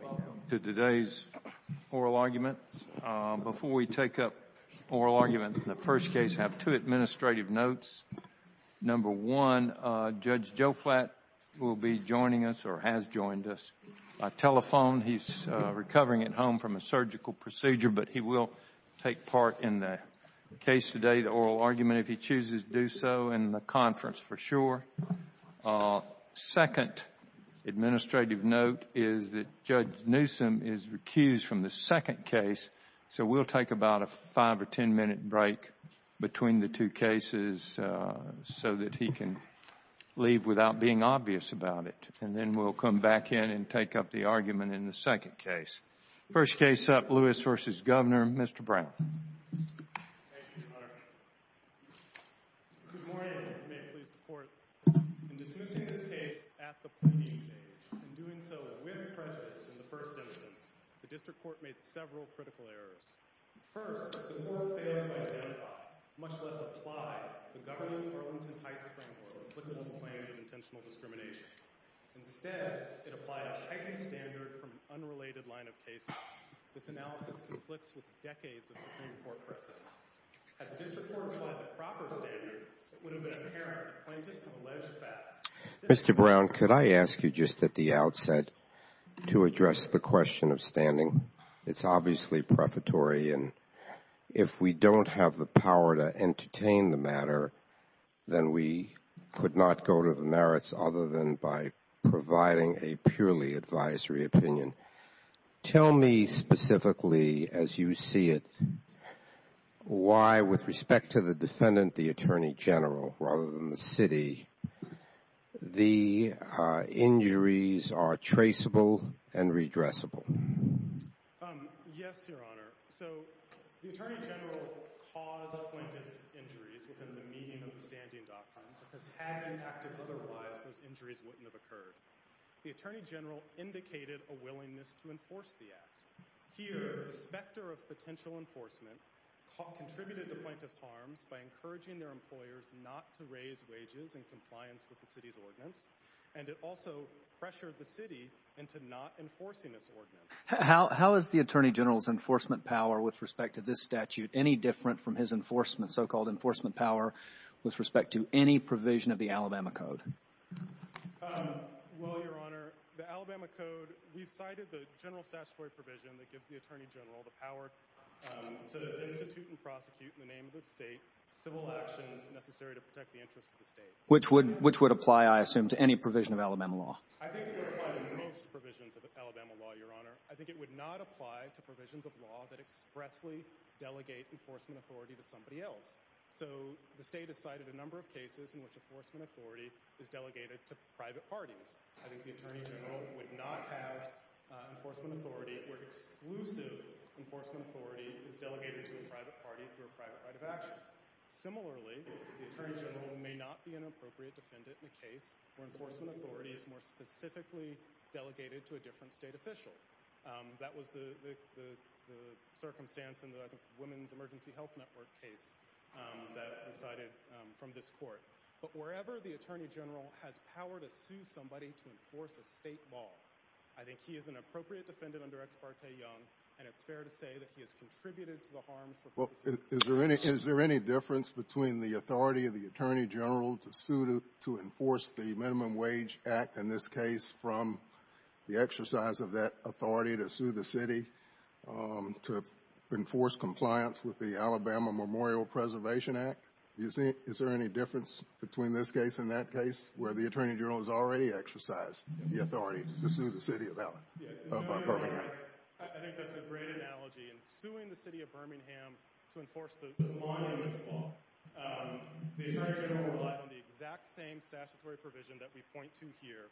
Welcome to today's oral argument. Before we take up oral argument in the first case, I have two administrative notes. Number one, Judge Joe Flatt will be joining us or has joined us by telephone. He's recovering at home from a surgical procedure, but he will take part in the case today, the oral argument, if he chooses to do so, in the conference for sure. Second administrative note is that Judge Newsom is recused from the second case, so we'll take about a five or ten minute break between the two cases so that he can leave without being obvious about it, and then we'll come back in and take up the argument in the next case. Thank you. Mr. Brent. Good morning. If you may please report. In dismissing this case at the PDC, and doing so with prejudice in the first instance, the district court made several critical errors. First, the court failed to identify, much less apply, the governing Arlington Heights framework for applicable claims of intentional discrimination. Instead, it applied a heightened standard from an unrelated line of cases. This analysis conflicts with decades of Supreme Court precedent. Had the district court applied the proper standard, it would have been apparent the plaintiffs have alleged facts. Mr. Brown, could I ask you just at the outset to address the question of standing? It's obviously prefatory, and if we don't have the power to entertain the matter, then we could not go to the merits other than by providing a purely advisory opinion. Tell me specifically, as you see it, why, with respect to the defendant, the Attorney General, rather than the city, the injuries are traceable and redressable. Yes, Your Honor. So, the Attorney General caused plaintiff's injuries within the meaning of the standing doctrine, because had he acted otherwise, those injuries wouldn't have occurred. The Attorney General indicated a willingness to enforce the act. Here, the specter of potential enforcement contributed to plaintiff's harms by encouraging their employers not to raise wages in compliance with the city's ordinance, and it also pressured the city into not enforcing its ordinance. How is the Attorney General's enforcement power with respect to this statute any different from his so-called enforcement power with respect to any provision of the Alabama Code? Well, Your Honor, the Alabama Code, we cited the general statutory provision that gives the Attorney General the power to institute and prosecute in the name of the State civil actions necessary to protect the interests of the State. Which would apply, I assume, to any provision of Alabama law? I think it would apply to most provisions of Alabama law, Your Honor. I think it would not apply to provisions of law that expressly delegate enforcement authority to somebody else. So, the State has cited a number of cases in which enforcement authority is delegated to private parties. I think the Attorney General would not have enforcement authority where exclusive enforcement authority is delegated to a private party through a private right of action. Similarly, the Attorney General may not be an appropriate defendant in a case where enforcement authority is more specifically delegated to a different State official. That was the circumstance in the Women's Emergency Health Network case that we cited from this Court. But wherever the Attorney General has power to sue somebody to enforce a State law, I think he is an appropriate defendant under Ex parte Young, and it's fair to say that he has contributed to the harms for purposes of this case. Is there any difference between the authority of the Attorney General to sue to enforce the Minimum Wage Act in this case from the exercise of that authority to sue the City to enforce compliance with the Alabama Memorial Preservation Act? Is there any difference between this case and that case where the Attorney General has already exercised the authority to sue the City of Birmingham? I think that's a great analogy. In suing the City of Birmingham to enforce the law, the Attorney General relied on the exact same statutory provision that we point to here,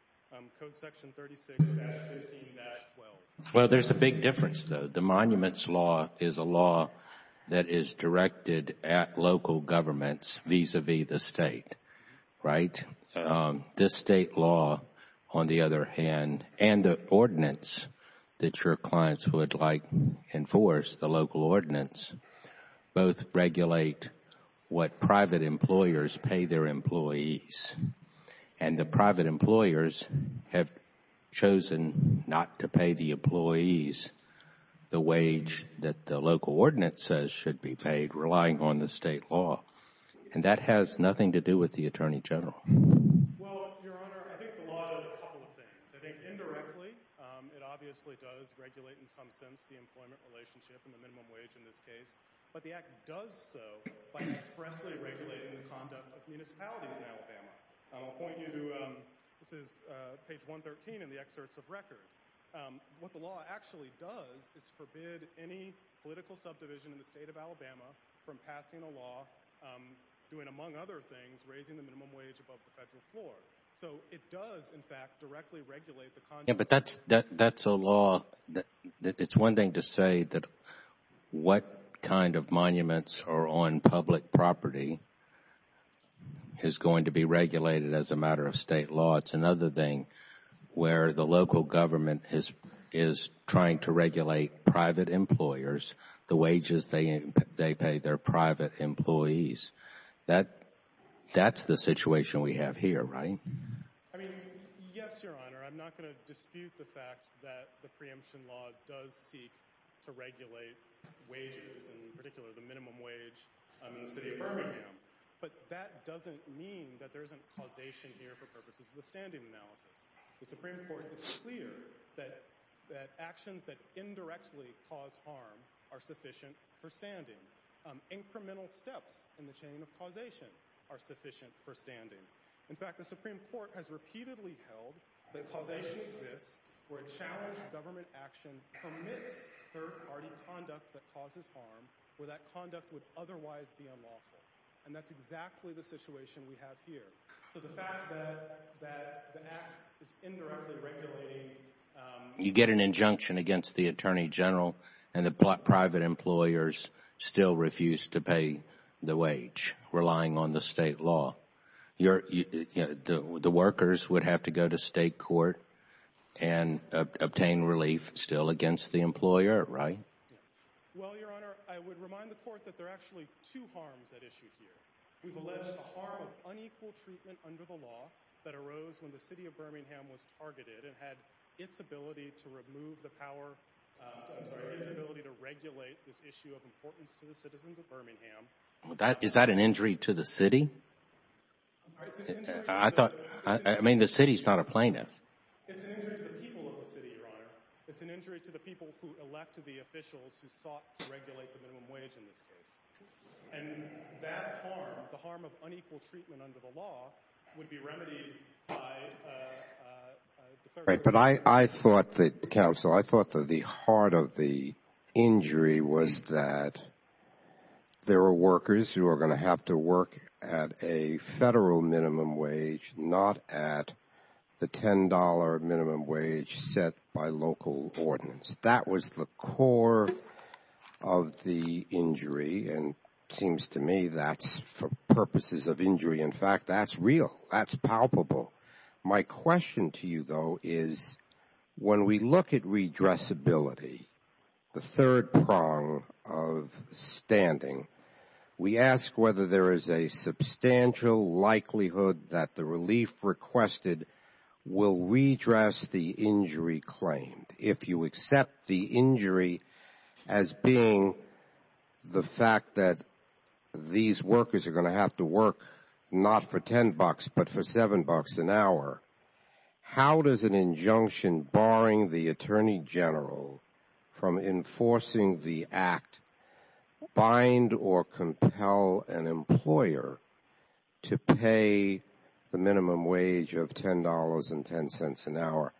Code Section 36-15-12. Well, there's a big difference, though. The Monuments Law is a law that is directed at local governments vis-à-vis the State, right? This State law, on the other hand, and the ordinance that your clients would like to enforce, the local ordinance, both regulate what private employers pay their employees. And the private employers have chosen not to pay the employees the wage that the local ordinance says should be paid, relying on the State law. And that has nothing to do with the Attorney General. Well, Your Honor, I think the law does a couple of things. I think, indirectly, it obviously does regulate, in some sense, the employment relationship and the minimum wage in this area by expressly regulating the conduct of municipalities in Alabama. I'll point you to, this is page 113 in the excerpts of record. What the law actually does is forbid any political subdivision in the State of Alabama from passing a law doing, among other things, raising the minimum wage above the federal floor. So it does, in fact, directly regulate the conduct Yeah, but that's a law that, it's one thing to say that what kind of monuments are on public property is going to be regulated as a matter of State law. It's another thing where the local government is trying to regulate private employers, the wages they pay their private employees. That's the situation we have here, right? I mean, yes, Your Honor, I'm not going to dispute the fact that the preemption law does seek to regulate wages, in particular the minimum wage in the City of Birmingham. But that doesn't mean that there isn't causation here for purposes of the standing analysis. The Supreme Court is clear that actions that indirectly cause harm are sufficient for standing. Incremental steps in the chain of causation are sufficient for standing. In fact, the Supreme Court has repeatedly held that causation exists where a challenged government action permits third-party conduct that causes harm, where that conduct would otherwise be unlawful. And that's exactly the situation we have here. So the fact that the Act is indirectly regulating... You get an injunction against the Attorney General and the private employers still refuse to pay the wage, relying on the State law. The workers would have to go to State court and obtain relief still against the employer, right? Well, Your Honor, I would remind the Court that there are actually two harms at issue here. We've alleged the harm of unequal treatment under the law that arose when the City of Birmingham was targeted and had its ability to remove the power... I'm sorry? ...had its ability to regulate this issue of importance to the citizens of Birmingham... Is that an injury to the City? I'm sorry? I thought... I mean, the City's not a plaintiff. It's an injury to the people of the City, Your Honor. It's an injury to the people who elected the officials who sought to regulate the minimum wage in this case. And that harm, the harm of unequal treatment under the law, would be remedied by the third party... Right, but I thought that, Counsel, I thought that the heart of the injury was that there were workers who are going to have to work at a Federal minimum wage, not at the $10 minimum wage set by local ordinance. That was the core of the injury, and it seems to me that's for purposes of injury. In fact, that's real. That's palpable. My question to you, though, is when we look at redressability, the third prong of standing, we ask whether there is a substantial likelihood that the relief requested will redress the injury claimed. If you accept the injury as being the fact that these workers are going to have to work not for $10, but for $7 an hour, how does an injunction barring the Attorney General from enforcing the Act bind or compel an employer to pay the minimum wage of $10.10 an hour?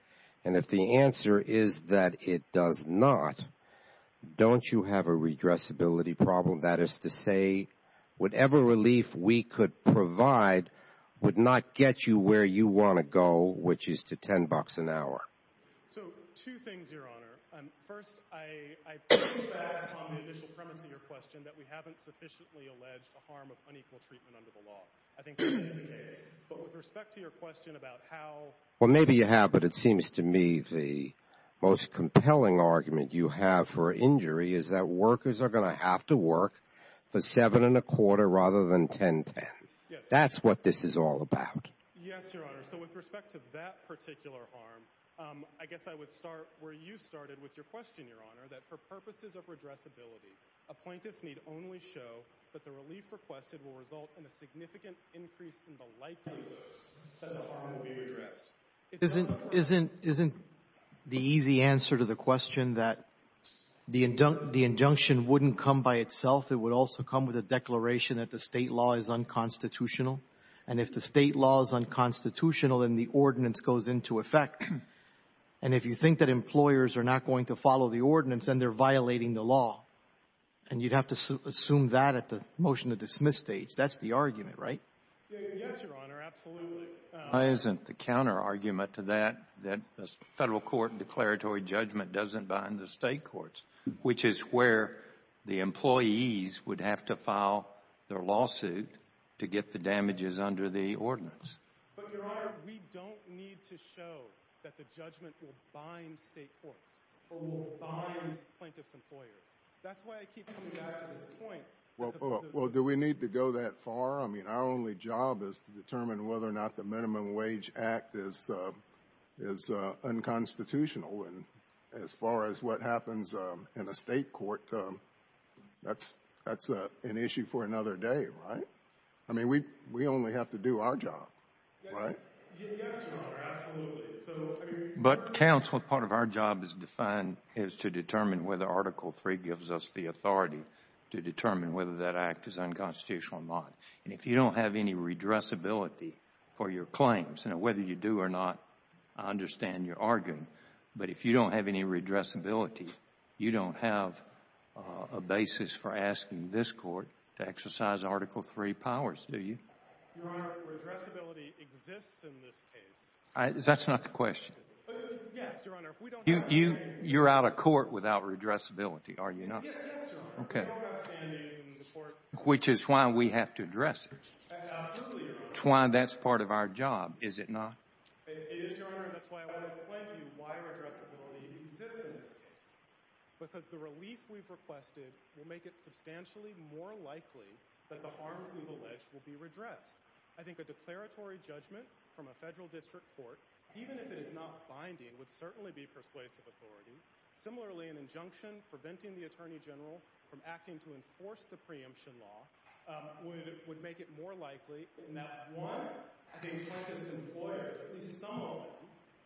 And if the answer is that it does not, don't you have a redressability problem? That is to say, whatever relief we could provide would not get you where you want to go, which is to $10 an hour. So, two things, Your Honor. First, I think that's on the initial premise of your question that we haven't sufficiently alleged a harm of unequal treatment under the law. I think that is the case. But with respect to your question about how… Well, maybe you have, but it seems to me the most compelling argument you have for injury is that workers are going to have to work for $7.25 rather than $10.10. That's what this is all about. Yes, Your Honor. So, with respect to that particular harm, I guess I would start where you started with your question, Your Honor, that for purposes of redressability, a plaintiff need only show that the relief requested will result in a significant increase in the likelihood that the harm will be redressed. Isn't the easy answer to the question that the injunction wouldn't come by itself? It would also come with a declaration that the State law is unconstitutional. And if the State law is unconstitutional, then the ordinance goes into effect. And if you think that employers are not going to follow the ordinance, then they're violating the law. And you'd have to assume that at the motion to dismiss stage. That's the argument, right? Yes, Your Honor, absolutely. Why isn't the counterargument to that that the Federal Court declaratory judgment doesn't bind the State courts, which is where the employees would have to file their lawsuit to get the damages under the ordinance? But, Your Honor, we don't need to show that the judgment will bind State courts. It will bind plaintiff's employers. That's why I keep coming back to this point. Well, do we need to go that far? I mean, our only job is to determine whether or not the Minimum Wage Act is unconstitutional. And as far as what happens in a State court, that's an issue for another day, right? I mean, we only have to do our job, right? Yes, Your Honor, absolutely. But, counsel, part of our job is to determine whether Article III gives us the authority to determine whether that Act is unconstitutional or not. And if you don't have any redressability for your claims, and whether you do or not, I understand you're arguing, but if you don't have any redressability, you don't have a basis for asking this Court to exercise Article III powers, do you? Your Honor, redressability exists in this case. That's not the question. Yes, Your Honor. You're out of court without redressability, are you not? Yes, Your Honor. Which is why we have to address it. Absolutely, Your Honor. It's why that's part of our job, is it not? It is, Your Honor, and that's why I want to explain to you why redressability exists in this case. Because the relief we've requested will make it substantially more likely that the harms we've alleged will be redressed. I think a declaratory judgment from a Federal District Court, even if it is not binding, would certainly be persuasive authority. Similarly, an injunction preventing the Attorney General from acting to enforce the preemption law would make it more likely in that, one, the plaintiff's employers, at least some of them,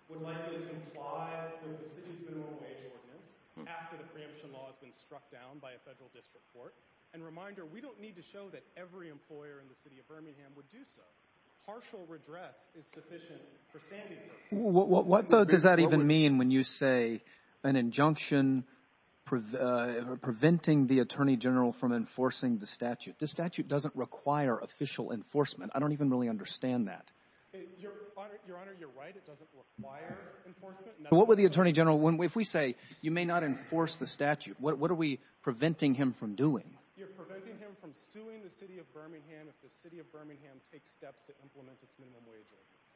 would likely comply with the City's Minimum Wage Ordinance after the preemption law has been struck down by a Federal District Court. And reminder, we don't need to show that every employer in the City of Birmingham would do so. Partial redress is sufficient for standing cases. What does that even mean when you say an injunction preventing the Attorney General from enforcing the statute? The statute doesn't require official enforcement. I don't even really understand that. Your Honor, you're right. It doesn't require enforcement. What would the Attorney General, if we say you may not enforce the statute, what are we preventing him from doing? You're preventing him from suing the City of Birmingham if the City of Birmingham takes steps to implement its Minimum Wage Ordinance.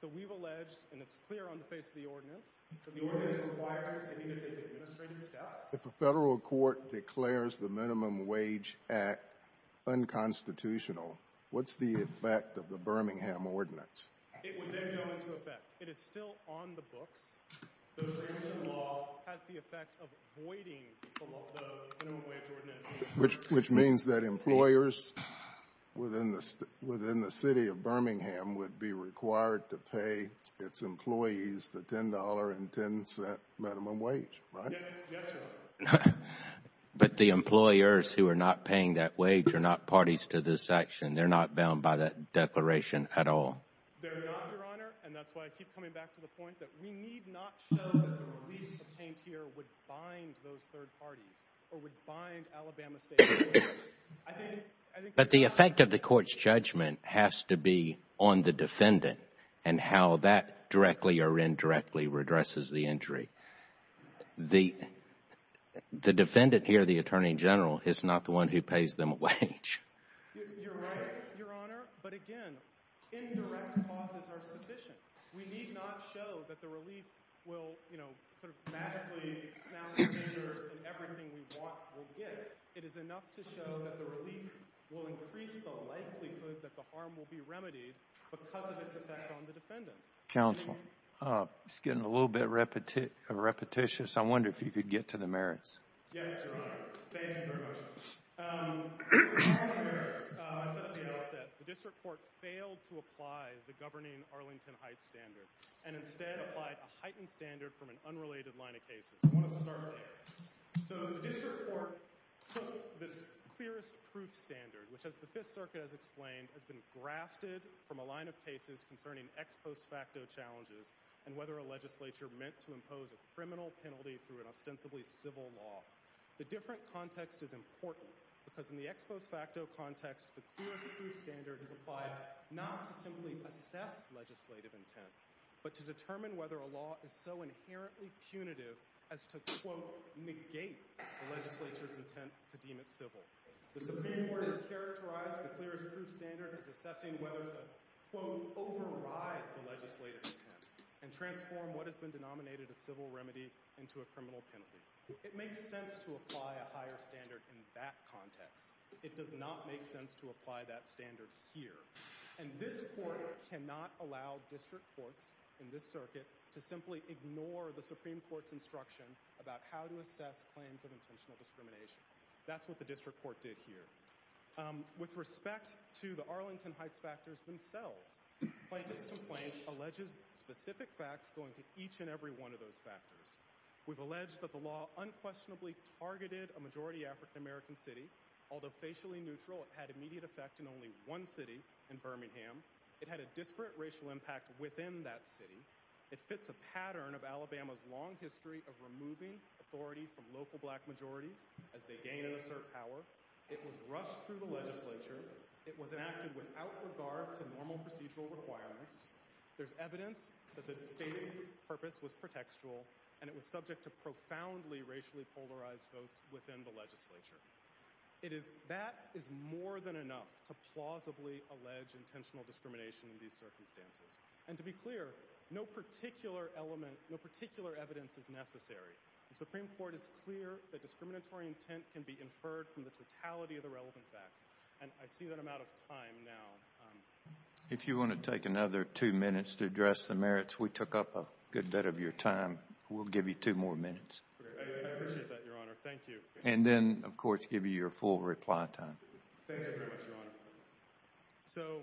So we've alleged, and it's clear on the face of the Ordinance, that the Ordinance requires the City to take administrative steps. If a Federal Court declares the Minimum Wage Act unconstitutional, what's the effect of the Birmingham Ordinance? It would then go into effect. It is still on the books. The preemption law has the effect of voiding the Minimum Wage Ordinance. Which means that employers within the City of Birmingham would be required to pay its employees the $10.10 minimum wage, right? Yes, Your Honor. But the employers who are not paying that wage are not parties to this action. They're not bound by that declaration at all. They're not, Your Honor, and that's why I keep coming back to the point that we need not show that the belief obtained here would bind those third parties or would bind Alabama State. But the effect of the Court's judgment has to be on the defendant and how that directly or indirectly redresses the injury. The defendant here, the Attorney General, is not the one who pays them a wage. You're right, Your Honor, but again, indirect causes are sufficient. We need not show that the relief will, you know, sort of magically smelly fingers and everything we want will get. It is enough to show that the relief will increase the likelihood that the harm will be remedied because of its effect on the defendants. Counsel, it's getting a little bit repetitious. I wonder if you could get to the merits. Yes, Your Honor. Thank you very much. The merits, as the appeal said, the District Court failed to apply the governing Arlington Heights standard and instead applied a heightened standard from an unrelated line of cases. I want us to start there. So the District Court took this clearest proof standard, which as the Fifth Circuit has explained, has been grafted from a line of cases concerning ex post facto challenges and whether a legislature meant to impose a criminal penalty through an ostensibly civil law. The different context is important because in the ex post facto context, the clearest proof standard is applied not to simply assess legislative intent, but to determine whether a law is so inherently punitive as to quote negate the legislature's intent to deem it civil. The Supreme Court has characterized the clearest proof standard as assessing whether to quote override the legislative intent and transform what has been denominated a civil remedy into a criminal penalty. It makes sense to apply a higher standard in that context. It does not make sense to apply that standard here. And this Court cannot allow District Courts in this circuit to simply ignore the Supreme Court's instruction about how to assess claims of intentional discrimination. That's what the District Court did here. With respect to the Arlington Heights factors themselves, plaintiffs complaint alleges specific facts going to each and every one of those factors. We've alleged that the law unquestionably targeted a majority African American city, although facially neutral, it had immediate effect in only one city in Birmingham. It had a disparate racial impact within that city. It fits a pattern of Alabama's long history of removing authority from local black majorities as they gain and assert power. It was rushed through the legislature. It was enacted without regard to normal procedural requirements. There's evidence that the stated purpose was pretextual and it was subject to profoundly racially polarized votes within the legislature. That is more than enough to plausibly allege intentional discrimination in these circumstances. And to be clear, no particular element, no particular evidence is necessary. The Supreme Court is clear that discriminatory intent can be inferred from the totality of the relevant facts. And I see that I'm out of time now. If you want to take another two minutes to address the merits, we took up a good bit of your time. We'll give you two more minutes. I appreciate that, Your Honor. Thank you. And then, of course, give you your full reply time. Thank you very much, Your Honor. So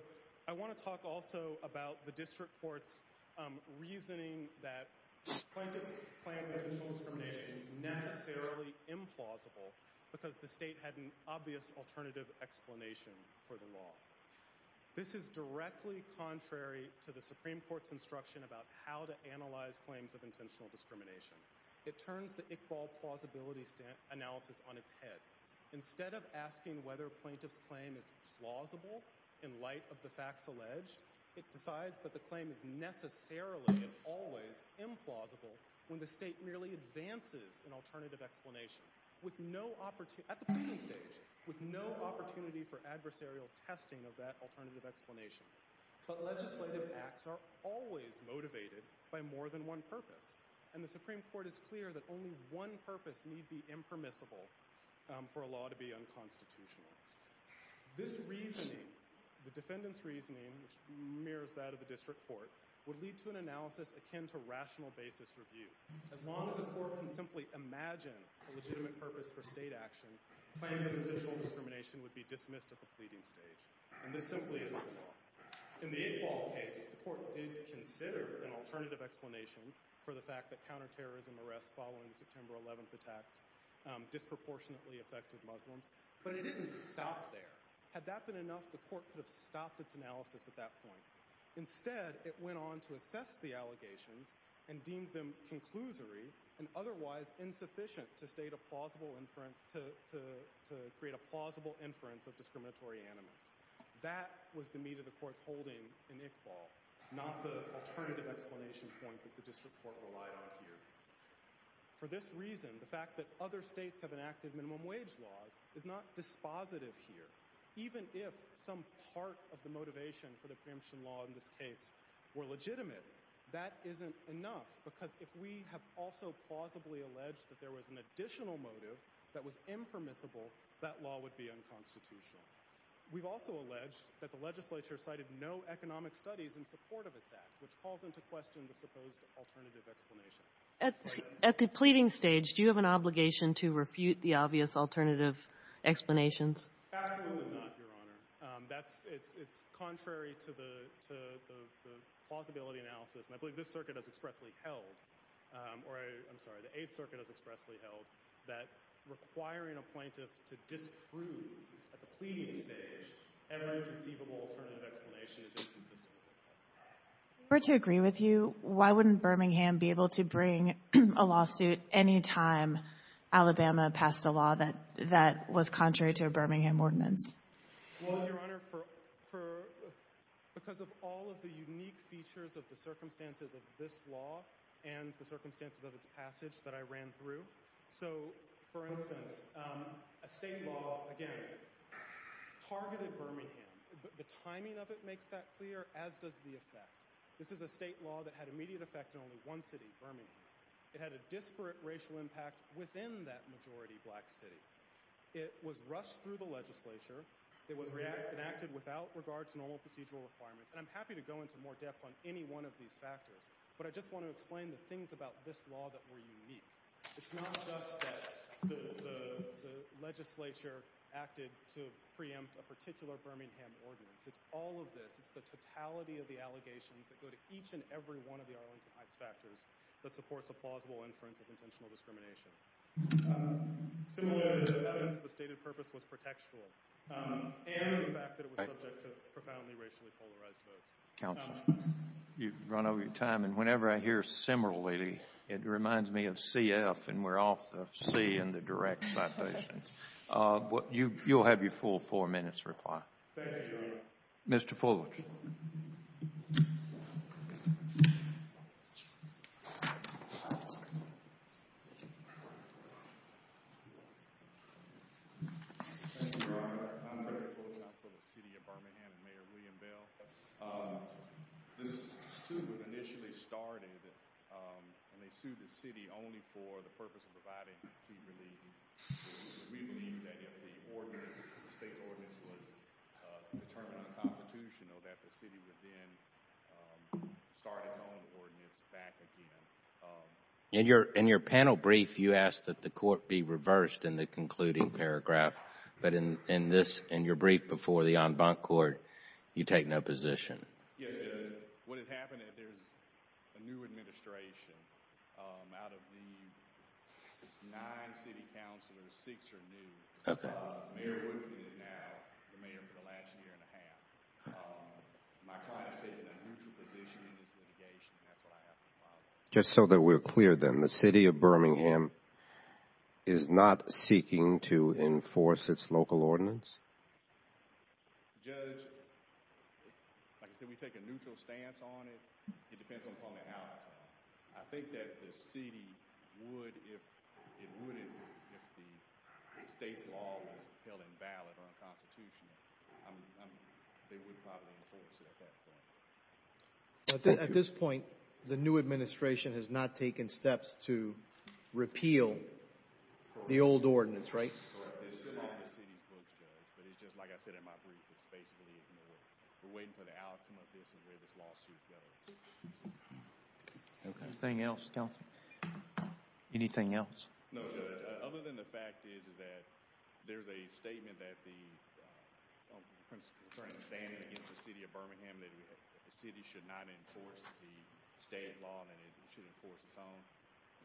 I want to talk also about the district court's reasoning that plaintiff's claim of intentional discrimination is necessarily implausible because the state had an obvious alternative explanation for the law. This is directly contrary to the Supreme Court's instruction about how to analyze claims of intentional discrimination. It turns the Iqbal plausibility analysis on its head. Instead of asking whether plaintiff's claim is plausible in light of the facts alleged, it decides that the claim is necessarily and always implausible when the state merely advances an alternative explanation. At the plaintiff's stage, with no opportunity for adversarial testing of that alternative explanation. But legislative acts are always motivated by more than one purpose. And the Supreme Court is clear that only one purpose need be impermissible for a law to be unconstitutional. This reasoning, the defendant's reasoning, which mirrors that of the district court, would lead to an analysis akin to rational basis review. As long as the court can simply imagine a legitimate purpose for state action, claims of intentional discrimination would be dismissed at the pleading stage. And this simply is not the law. In the Iqbal case, the court did consider an alternative explanation for the fact that counterterrorism arrests following the September 11th attacks disproportionately affected Muslims. But it didn't stop there. Had that been enough, the court could have stopped its analysis at that point. Instead, it went on to assess the allegations and deemed them conclusory and otherwise insufficient to create a plausible inference of discriminatory animus. That was the meat of the court's holding in Iqbal, not the alternative explanation point that the district court relied on here. For this reason, the fact that other states have enacted minimum wage laws is not dispositive here. Even if some part of the motivation for the preemption law in this case were legitimate, that isn't enough, because if we have also plausibly alleged that there was an additional motive that was impermissible, that law would be unconstitutional. We've also alleged that the legislature cited no economic studies in support of its act, which calls into question the supposed alternative explanation. At the pleading stage, do you have an obligation to refute the obvious alternative explanations? Absolutely not, Your Honor. It's contrary to the plausibility analysis, and I believe this circuit has expressly held, or I'm sorry, the Eighth Circuit has expressly held that requiring a plaintiff to disprove at the pleading stage an unconceivable alternative explanation is inconsistent with that. If we're to agree with you, why wouldn't Birmingham be able to bring a lawsuit any time Alabama passed a law that was contrary to a Birmingham ordinance? Well, Your Honor, because of all of the unique features of the circumstances of this law and the circumstances of its passage that I ran through. So, for instance, a state law, again, targeted Birmingham. The timing of it makes that clear, as does the effect. This is a state law that had immediate effect in only one city, Birmingham. It had a disparate racial impact within that majority black city. It was rushed through the legislature. It was enacted without regard to normal procedural requirements. And I'm happy to go into more depth on any one of these factors, but I just want to explain the things about this law that were unique. It's not just that the legislature acted to preempt a particular Birmingham ordinance. It's all of this. It's the totality of the allegations that go to each and every one of the Arlington Heights factors that supports a plausible inference of intentional discrimination. Similarly, the evidence of the stated purpose was pretextual. And it was the fact that it was subject to profoundly racially polarized votes. Counsel, you've run over your time, and whenever I hear similarly, it reminds me of CF, and we're off the C in the direct citation. You'll have your full four minutes to reply. Thank you, Your Honor. Mr. Fuller. Thank you, Your Honor. I'm Eric Fuller. I'm from the city of Birmingham, Mayor William Bell. This suit was initially started, and they sued the city only for the purpose of providing plea relief. We believe that if the state's ordinance was determined unconstitutional, that the city would then start its own ordinance back again. In your panel brief, you asked that the court be reversed in the concluding paragraph, but in your brief before the en banc court, you take no position. Yes, Judge. What has happened is there's a new administration out of the nine city counselors. Six are new. Mayor Woodley is now the mayor for the last year and a half. My client has taken a neutral position in this litigation, and that's what I have to follow. Just so that we're clear then, the city of Birmingham is not seeking to enforce its local ordinance? Judge, like I said, we take a neutral stance on it. It depends upon the outcome. I think that the city would if the state's law were held invalid or unconstitutional. They would probably enforce it at that point. Thank you. At this point, the new administration has not taken steps to repeal the old ordinance, right? Correct. It's still on the city's books, Judge, but it's just, like I said in my brief, it's basically ignored. We're waiting for the outcome of this and where this lawsuit goes. Okay. Anything else, Counselor? Anything else? No, Judge. Other than the fact is that there's a statement that the principal is standing against the city of Birmingham that the city should not enforce the state law and it should enforce its own.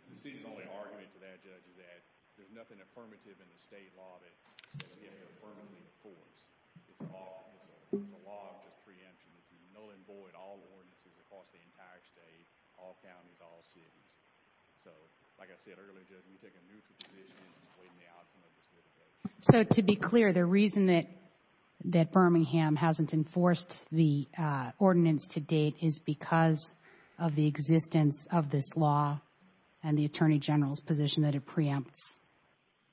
The city's only argument to that, Judge, is that there's nothing affirmative in the state law that the city can't affirmatively enforce. It's a law of just preemption. It's null and void all ordinances across the entire state, all counties, all cities. So, like I said earlier, Judge, we take a neutral position. It's waiting for the outcome of this litigation. So, to be clear, the reason that Birmingham hasn't enforced the ordinance to date is because of the existence of this law and the Attorney General's position that it preempts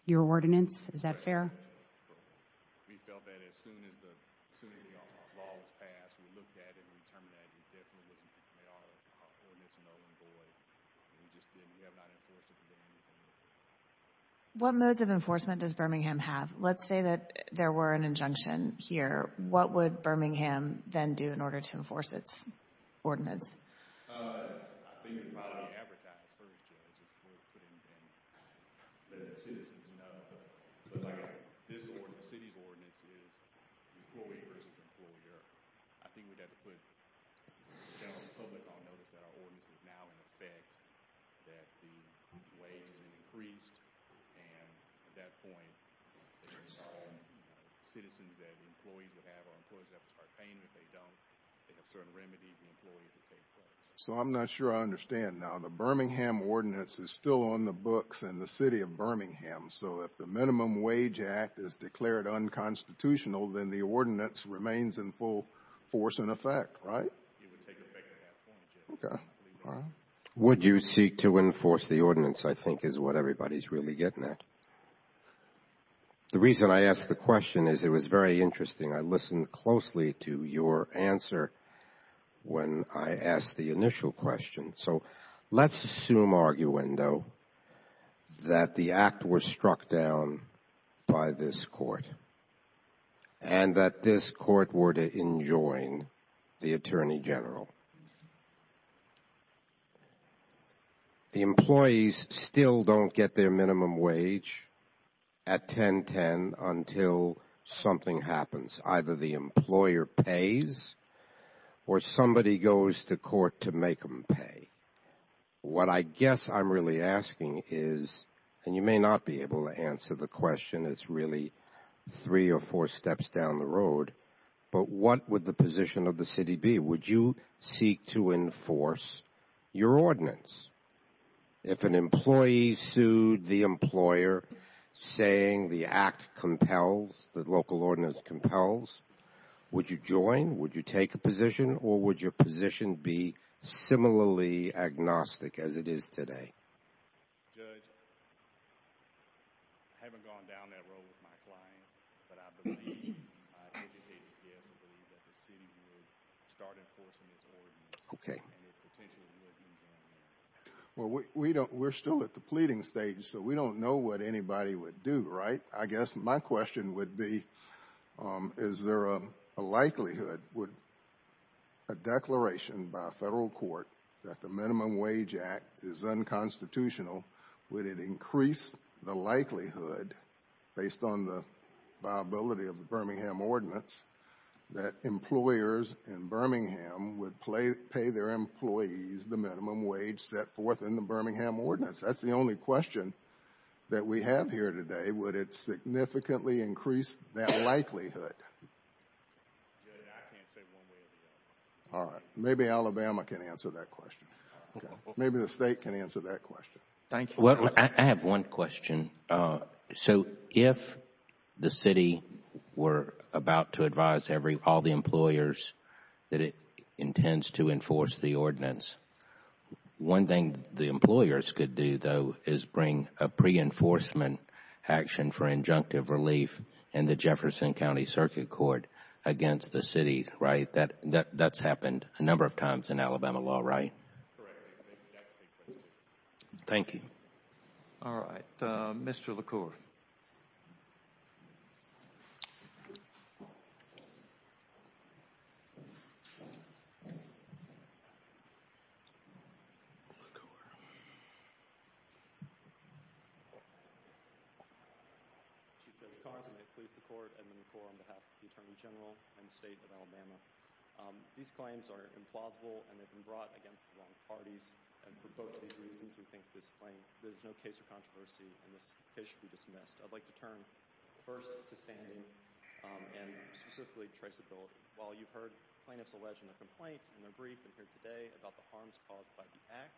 your ordinance. Is that fair? Correct. We felt that as soon as the law was passed, we looked at it and we determined that it definitely wouldn't make our ordinance null and void. We just didn't. We have not enforced it to date. What modes of enforcement does Birmingham have? Let's say that there were an injunction here. What would Birmingham then do in order to enforce its ordinance? I think it would probably advertise first, Judge. It wouldn't put anything that the citizens know. But, like I said, the city's ordinance is employee versus employer. I think we'd have to put the general public on notice that our ordinance is now in effect. That the wage has increased. And, at that point, it's citizens that employees would have. Our employees would have to start paying if they don't. They have certain remedies. The employees would pay for it. So, I'm not sure I understand. So, if the Minimum Wage Act is declared unconstitutional, then the ordinance remains in full force and effect, right? It would take effect at that point, Judge. Okay. Would you seek to enforce the ordinance, I think, is what everybody's really getting at. The reason I asked the question is it was very interesting. I listened closely to your answer when I asked the initial question. So, let's assume, arguendo, that the act was struck down by this court. And that this court were to enjoin the Attorney General. The employees still don't get their minimum wage at 10.10 until something happens. Either the employer pays or somebody goes to court to make them pay. What I guess I'm really asking is, and you may not be able to answer the question. It's really three or four steps down the road. But what would the position of the city be? Would you seek to enforce your ordinance? If an employee sued the employer saying the act compels, the local ordinance compels, would you join? Would you take a position? Or would your position be similarly agnostic as it is today? Judge, I haven't gone down that road with my client. But I believe, I indicated here, I believe that the city would start enforcing its ordinance. Okay. Well, we're still at the pleading stage, so we don't know what anybody would do, right? I guess my question would be, is there a likelihood, a declaration by a federal court, that the Minimum Wage Act is unconstitutional? Would it increase the likelihood, based on the viability of the Birmingham ordinance, that employers in Birmingham would pay their employees the minimum wage set forth in the Birmingham ordinance? That's the only question that we have here today. Would it significantly increase that likelihood? Judge, I can't say one way or the other. All right. Maybe Alabama can answer that question. Okay. Maybe the State can answer that question. Thank you. Well, I have one question. So, if the city were about to advise all the employers that it intends to enforce the ordinance, one thing the employers could do, though, is bring a pre-enforcement action for injunctive relief in the Jefferson County Circuit Court against the city, right? That's happened a number of times in Alabama law, right? Correct. Thank you. All right. Mr. LaCour. Chief Judge Carson, the police, the court, Edmund LaCour on behalf of the Attorney General and the State of Alabama. These claims are implausible, and they've been brought against the wrong parties, and for both these reasons, we think this claim, there's no case of controversy, and this case should be dismissed. I'd like to turn first to standing and specifically traceability. While you've heard plaintiffs allege in their complaint and their brief in here today about the harms caused by the act,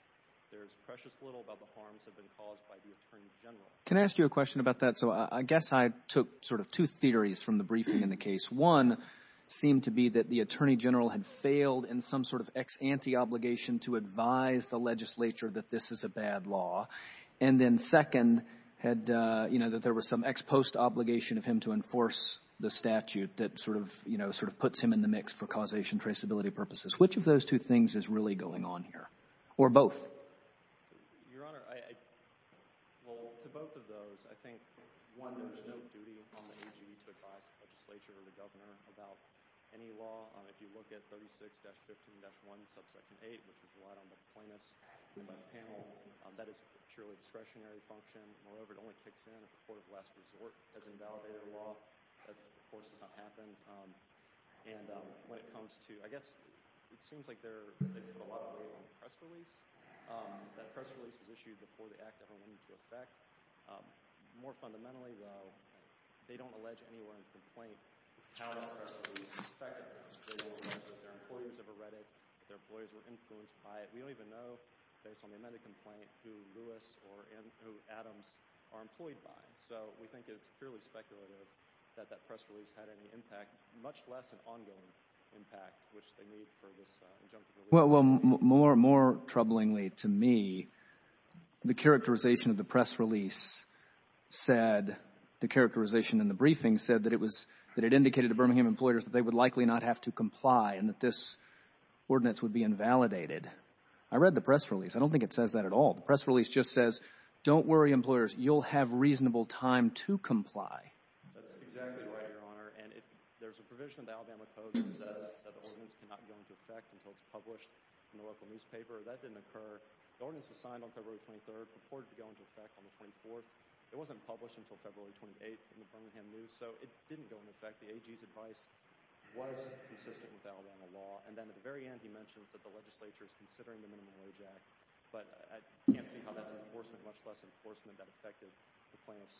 there is precious little about the harms that have been caused by the Attorney General. Can I ask you a question about that? So, I guess I took sort of two theories from the briefing in the case. One seemed to be that the Attorney General had failed in some sort of ex ante obligation to advise the legislature that this is a bad law. And then second had, you know, that there was some ex post obligation of him to enforce the statute that sort of, you know, sort of puts him in the mix for causation traceability purposes. Which of those two things is really going on here, or both? Your Honor, well, to both of those. I think, one, there's no duty on the AG to advise the legislature or the governor about any law. If you look at 36-15-1, subsection 8, which was relied on by the plaintiffs and by the panel, that is a purely discretionary function. Moreover, it only kicks in if the court of last resort has invalidated the law. That, of course, has not happened. And when it comes to, I guess, it seems like there's a lot of weight on the press release. That press release was issued before the Act ever went into effect. More fundamentally, though, they don't allege anywhere in the complaint how this press release was effected. Their employers never read it. Their employers were influenced by it. We don't even know, based on the amended complaint, who Lewis or who Adams are employed by. So we think it's purely speculative that that press release had any impact, much less an ongoing impact, which they need for this injunctive release. Well, more troublingly to me, the characterization of the press release said, the characterization in the briefing said that it indicated to Birmingham employers that they would likely not have to comply and that this ordinance would be invalidated. I read the press release. I don't think it says that at all. The press release just says, don't worry, employers. You'll have reasonable time to comply. That's exactly right, Your Honor. And there's a provision in the Alabama Code that says that the ordinance cannot go into effect until it's published in the local newspaper. That didn't occur. The ordinance was signed on February 23rd, purported to go into effect on the 24th. It wasn't published until February 28th in the Birmingham News. So it didn't go into effect. The AG's advice was consistent with the Alabama law. And then at the very end, he mentions that the legislature is considering the Minimum I can't see how that's enforcement, much less enforcement that affected the plaintiffs,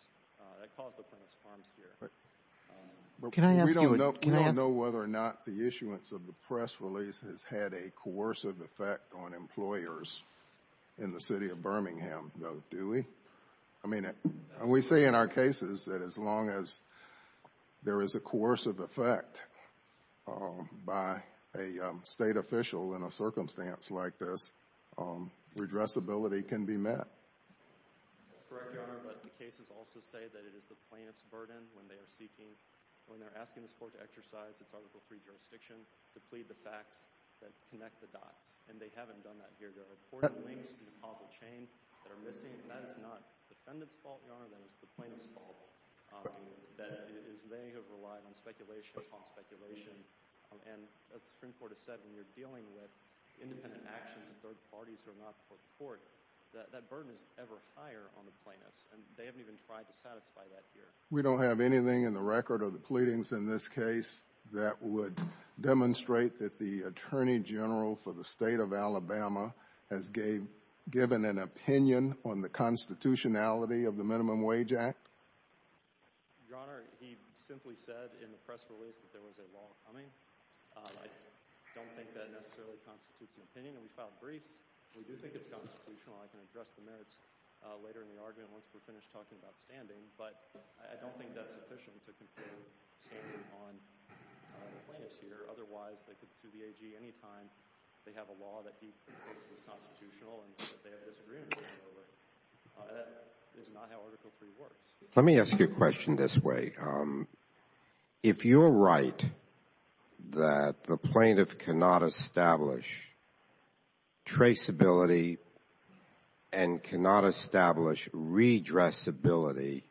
that caused the plaintiffs' harms here. Can I ask you a question? We don't know whether or not the issuance of the press release has had a coercive effect on employers in the city of Birmingham, though, do we? I mean, we say in our cases that as long as there is a coercive effect by a state official in a circumstance like this, redressability can be met. That's correct, Your Honor. But the cases also say that it is the plaintiff's burden when they are seeking, when they're asking this court to exercise its Article III jurisdiction to plead the facts that connect the dots. And they haven't done that here. There are important links in the causal chain that are missing. That is not the defendant's fault, Your Honor. That is the plaintiff's fault. They have relied on speculation upon speculation. And as the Supreme Court has said, when you're dealing with independent actions of third parties who are not before the court, that burden is ever higher on the plaintiffs. And they haven't even tried to satisfy that here. We don't have anything in the record of the pleadings in this case that would demonstrate that the Attorney General for the State of Alabama has given an opinion on the constitutionality of the Minimum Wage Act? Your Honor, he simply said in the press release that there was a law coming. I don't think that necessarily constitutes an opinion. And we filed briefs. We do think it's constitutional. I can address the merits later in the argument once we're finished talking about standing. But I don't think that's sufficient to conclude standing on the plaintiffs here. Otherwise, they could sue the AG any time they have a law that he feels is constitutional and that they have disagreements over it. That is not how Article III works. Let me ask you a question this way. If you're right that the plaintiff cannot establish traceability and cannot establish redressability,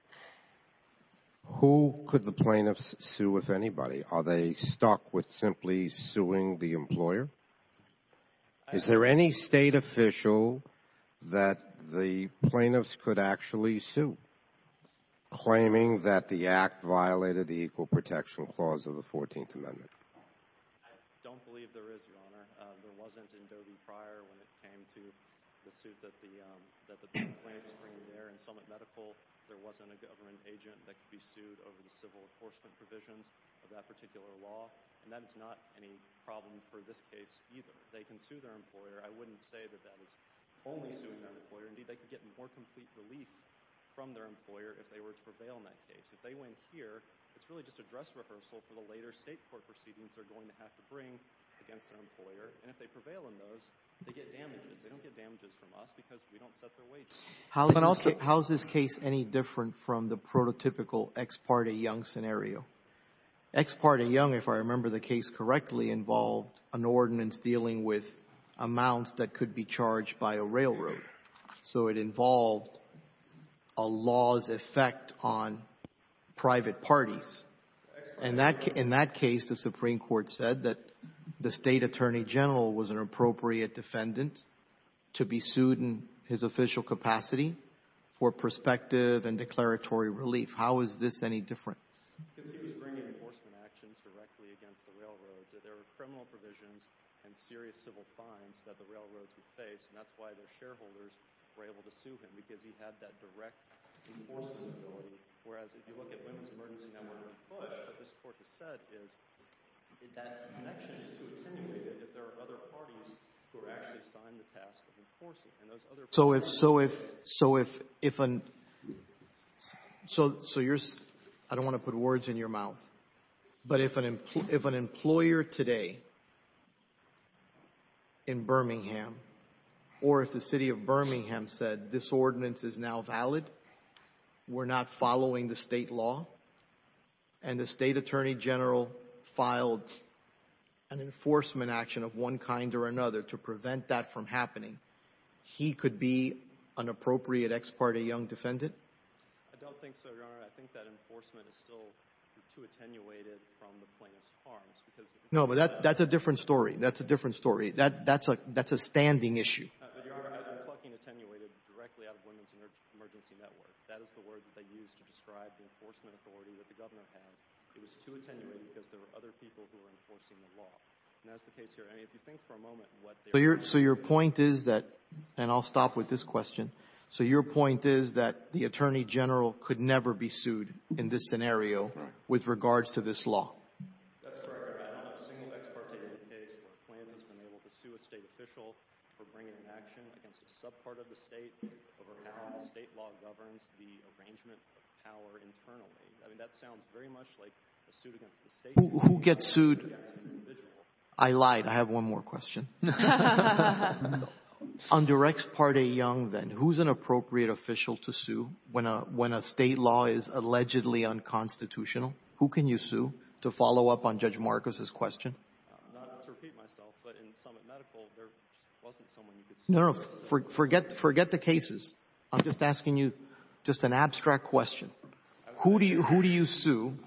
who could the plaintiffs sue, if anybody? Are they stuck with simply suing the employer? Is there any state official that the plaintiffs could actually sue claiming that the Act violated the Equal Protection Clause of the 14th Amendment? I don't believe there is, Your Honor. There wasn't in Doe v. Pryor when it came to the suit that the plaintiffs bring there. In Summit Medical, there wasn't a government agent that could be sued over the civil enforcement provisions of that particular law. And that is not any problem for this case either. They can sue their employer. I wouldn't say that that is only suing their employer. Indeed, they could get more complete relief from their employer if they were to prevail in that case. If they win here, it's really just a dress rehearsal for the later state court proceedings they're going to have to bring against their employer. And if they prevail in those, they get damages. They don't get damages from us because we don't set their wages. How is this case any different from the prototypical ex parte young scenario? Ex parte young, if I remember the case correctly, involved an ordinance dealing with amounts that could be charged by a railroad. So it involved a law's effect on private parties. In that case, the Supreme Court said that the State Attorney General was an appropriate defendant to be sued in his official capacity for prospective and declaratory relief. How is this any different? Because he was bringing enforcement actions directly against the railroads. There were criminal provisions and serious civil fines that the railroads would face, and that's why their shareholders were able to sue him because he had that direct enforcement ability. Whereas, if you look at women's emergency network and push, what this court has said is that connection is too attenuated if there are other parties who are actually assigned the task of enforcing it. So if, I don't want to put words in your mouth, but if an employer today in Birmingham or if the city of Birmingham said this ordinance is now valid, we're not following the state law, and the State Attorney General filed an enforcement action of one kind or another to prevent that from happening, he could be an appropriate ex parte young defendant? I don't think so, Your Honor. I think that enforcement is still too attenuated from the plaintiff's harms because No, but that's a different story. That's a different story. That's a standing issue. Your Honor, I'm talking attenuated directly out of women's emergency network. That is the word that they used to describe the enforcement authority that the Governor had. It was too attenuated because there were other people who were enforcing the law. And that's the case here. I mean, if you think for a moment what they were doing. So your point is that — and I'll stop with this question. So your point is that the Attorney General could never be sued in this scenario with regards to this law? That's correct. I don't know of a single ex parte case where a plaintiff has been able to sue a State official for bringing an action against a subpart of the State over how the State law governs the arrangement of power internally. I mean, that sounds very much like a suit against the State. Who gets sued? I lied. I have one more question. Under ex parte young then, who's an appropriate official to sue when a State law is allegedly unconstitutional? Who can you sue? To follow up on Judge Marcus' question. No, no. Forget the cases. I'm just asking you just an abstract question. Who do you sue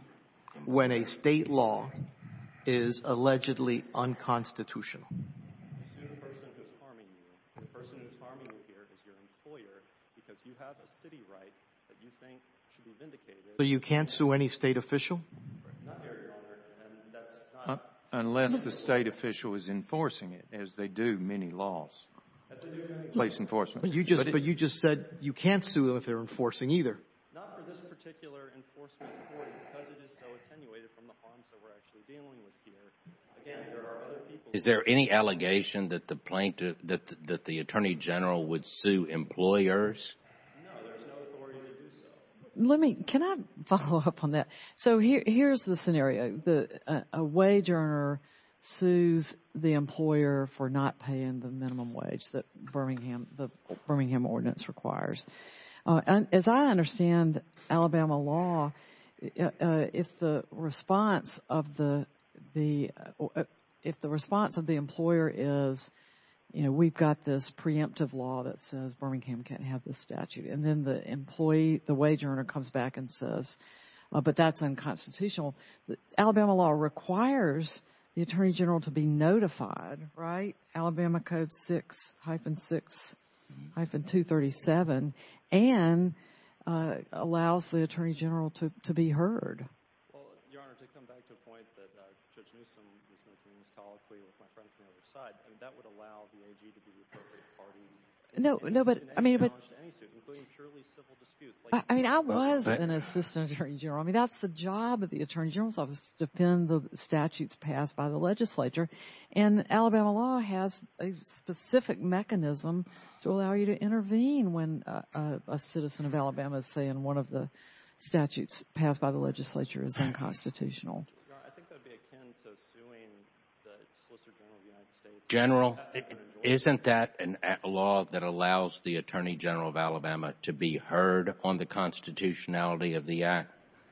when a State law is allegedly unconstitutional? You sue the person who's harming you. The person who's harming you here is your employer because you have a City right that you think should be vindicated. So you can't sue any State official? Not here, Your Honor, and that's not — Unless the State official is enforcing it, as they do many laws. As they do many laws. Place enforcement. But you just said you can't sue them if they're enforcing either. Not for this particular enforcement court because it is so attenuated from the harms that we're actually dealing with here. Again, there are other people — Is there any allegation that the plaintiff — that the Attorney General would sue employers? No, there's no authority to do so. Let me — can I follow up on that? So here's the scenario. A wage earner sues the employer for not paying the minimum wage that the Birmingham Ordinance requires. As I understand Alabama law, if the response of the — if the response of the employer is, you know, we've got this preemptive law that says Birmingham can't have this statute. And then the employee, the wage earner, comes back and says, but that's unconstitutional. Alabama law requires the Attorney General to be notified, right? Alabama Code 6, hyphen 6, hyphen 237, and allows the Attorney General to be heard. Well, Your Honor, to come back to the point that Judge Newsom was making this colloquy with my friend from the other side, I mean, that would allow the AG to be the appropriate party. No, no, but — I mean, but — In any suit, including purely civil disputes. I mean, I was an assistant Attorney General. I mean, that's the job of the Attorney General's office is to defend the statutes passed by the legislature. And Alabama law has a specific mechanism to allow you to intervene when a citizen of Alabama is saying one of the statutes passed by the legislature is unconstitutional. Your Honor, I think that would be akin to suing the Solicitor General of the United States. General, isn't that a law that allows the Attorney General of Alabama to be heard on the constitutionality of the act?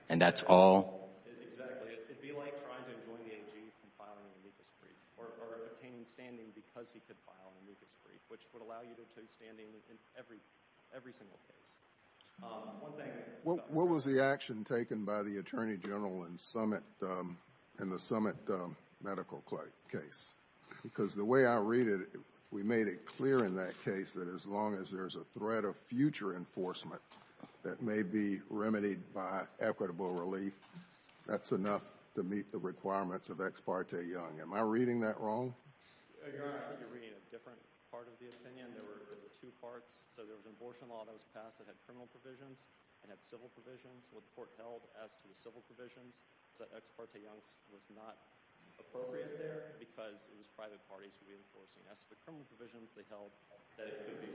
And that's all? Exactly. It would be like trying to join the AG from filing an amicus brief or obtaining standing because he could file an amicus brief, which would allow you to obtain standing in every single case. One thing — What was the action taken by the Attorney General in the Summit medical case? Because the way I read it, we made it clear in that case that as long as there's a threat of future enforcement that may be remedied by equitable relief, that's enough to meet the requirements of Ex parte Young. Am I reading that wrong? Your Honor, I think you're reading a different part of the opinion. There were two parts. So there was an abortion law that was passed that had criminal provisions and had civil provisions. What the court held as to the civil provisions was that Ex parte Young's was not appropriate there because it was private parties reinforcing as to the criminal provisions they held that it could be.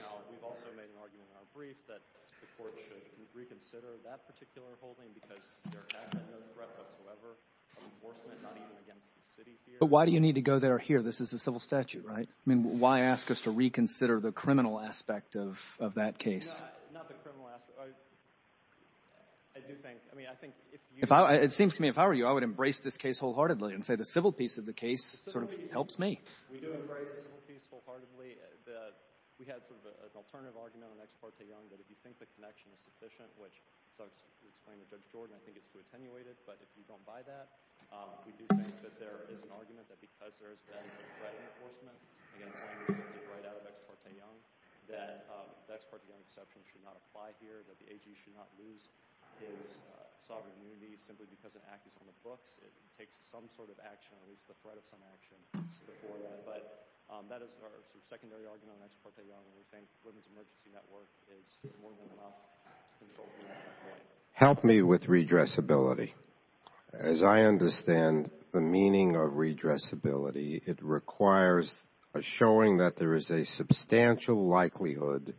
Now, we've also made an argument in our brief that the court should reconsider that particular holding because there has been no threat whatsoever of enforcement, not even against the city here. But why do you need to go there or here? This is a civil statute, right? I mean, why ask us to reconsider the criminal aspect of that case? Not the criminal aspect. I do think — I mean, I think if you — It seems to me if I were you, I would embrace this case wholeheartedly and say the civil piece of the case sort of helps me. We do embrace the civil piece wholeheartedly. We had sort of an alternative argument on Ex parte Young that if you think the connection is sufficient, which, as I explained to Judge Jordan, I think it's too attenuated, but if you don't buy that, we do think that there is an argument that because there has been threat enforcement against language that came right out of Ex parte Young, that the Ex parte Young exception should not apply here, that the AG should not lose his sovereign immunity simply because an act is on the books. It takes some sort of action, at least the threat of some action. But that is our sort of secondary argument on Ex parte Young. We think the Women's Emergency Network is more than enough. Help me with redressability. As I understand the meaning of redressability, it requires a showing that there is a substantial likelihood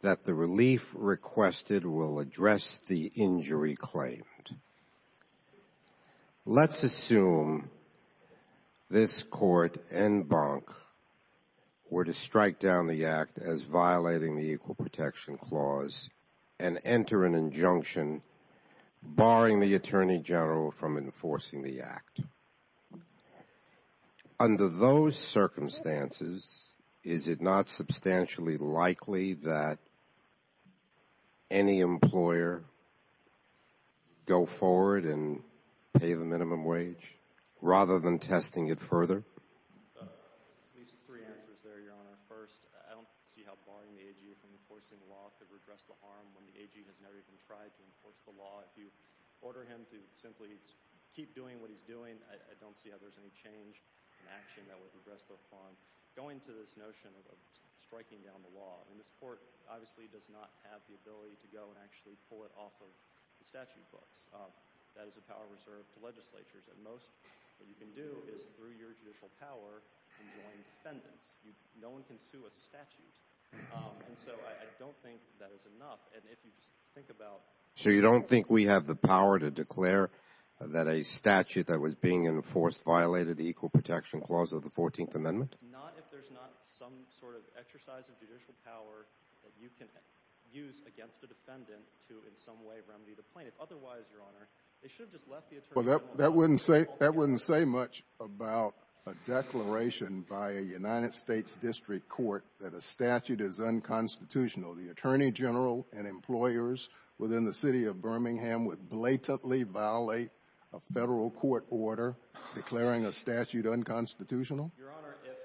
that the relief requested will address the injury claimed. Let's assume this Court and Bank were to strike down the Act as violating the Equal Protection Clause and enter an injunction barring the Attorney General from enforcing the Act. Under those circumstances, is it not substantially likely that any employer go forward and pay the minimum wage rather than testing it further? At least three answers there, Your Honor. First, I don't see how barring the AG from enforcing the law could redress the harm when the AG has never even tried to enforce the law. If you order him to simply keep doing what he's doing, I don't see how there's any change in action that would redress the harm. Going to this notion of striking down the law, and this Court obviously does not have the ability to go and actually pull it off of the statute books. That is a power reserved to legislatures. At most, what you can do is, through your judicial power, enjoin defendants. No one can sue a statute. And so I don't think that is enough. So you don't think we have the power to declare that a statute that was being enforced violated the Equal Protection Clause of the 14th Amendment? Not if there's not some sort of exercise of judicial power that you can use against a defendant to in some way remedy the plaintiff. Otherwise, Your Honor, they should have just left the Attorney General. That wouldn't say much about a declaration by a United States district court that a statute is unconstitutional. You know, the Attorney General and employers within the city of Birmingham would blatantly violate a federal court order declaring a statute unconstitutional? Your Honor, if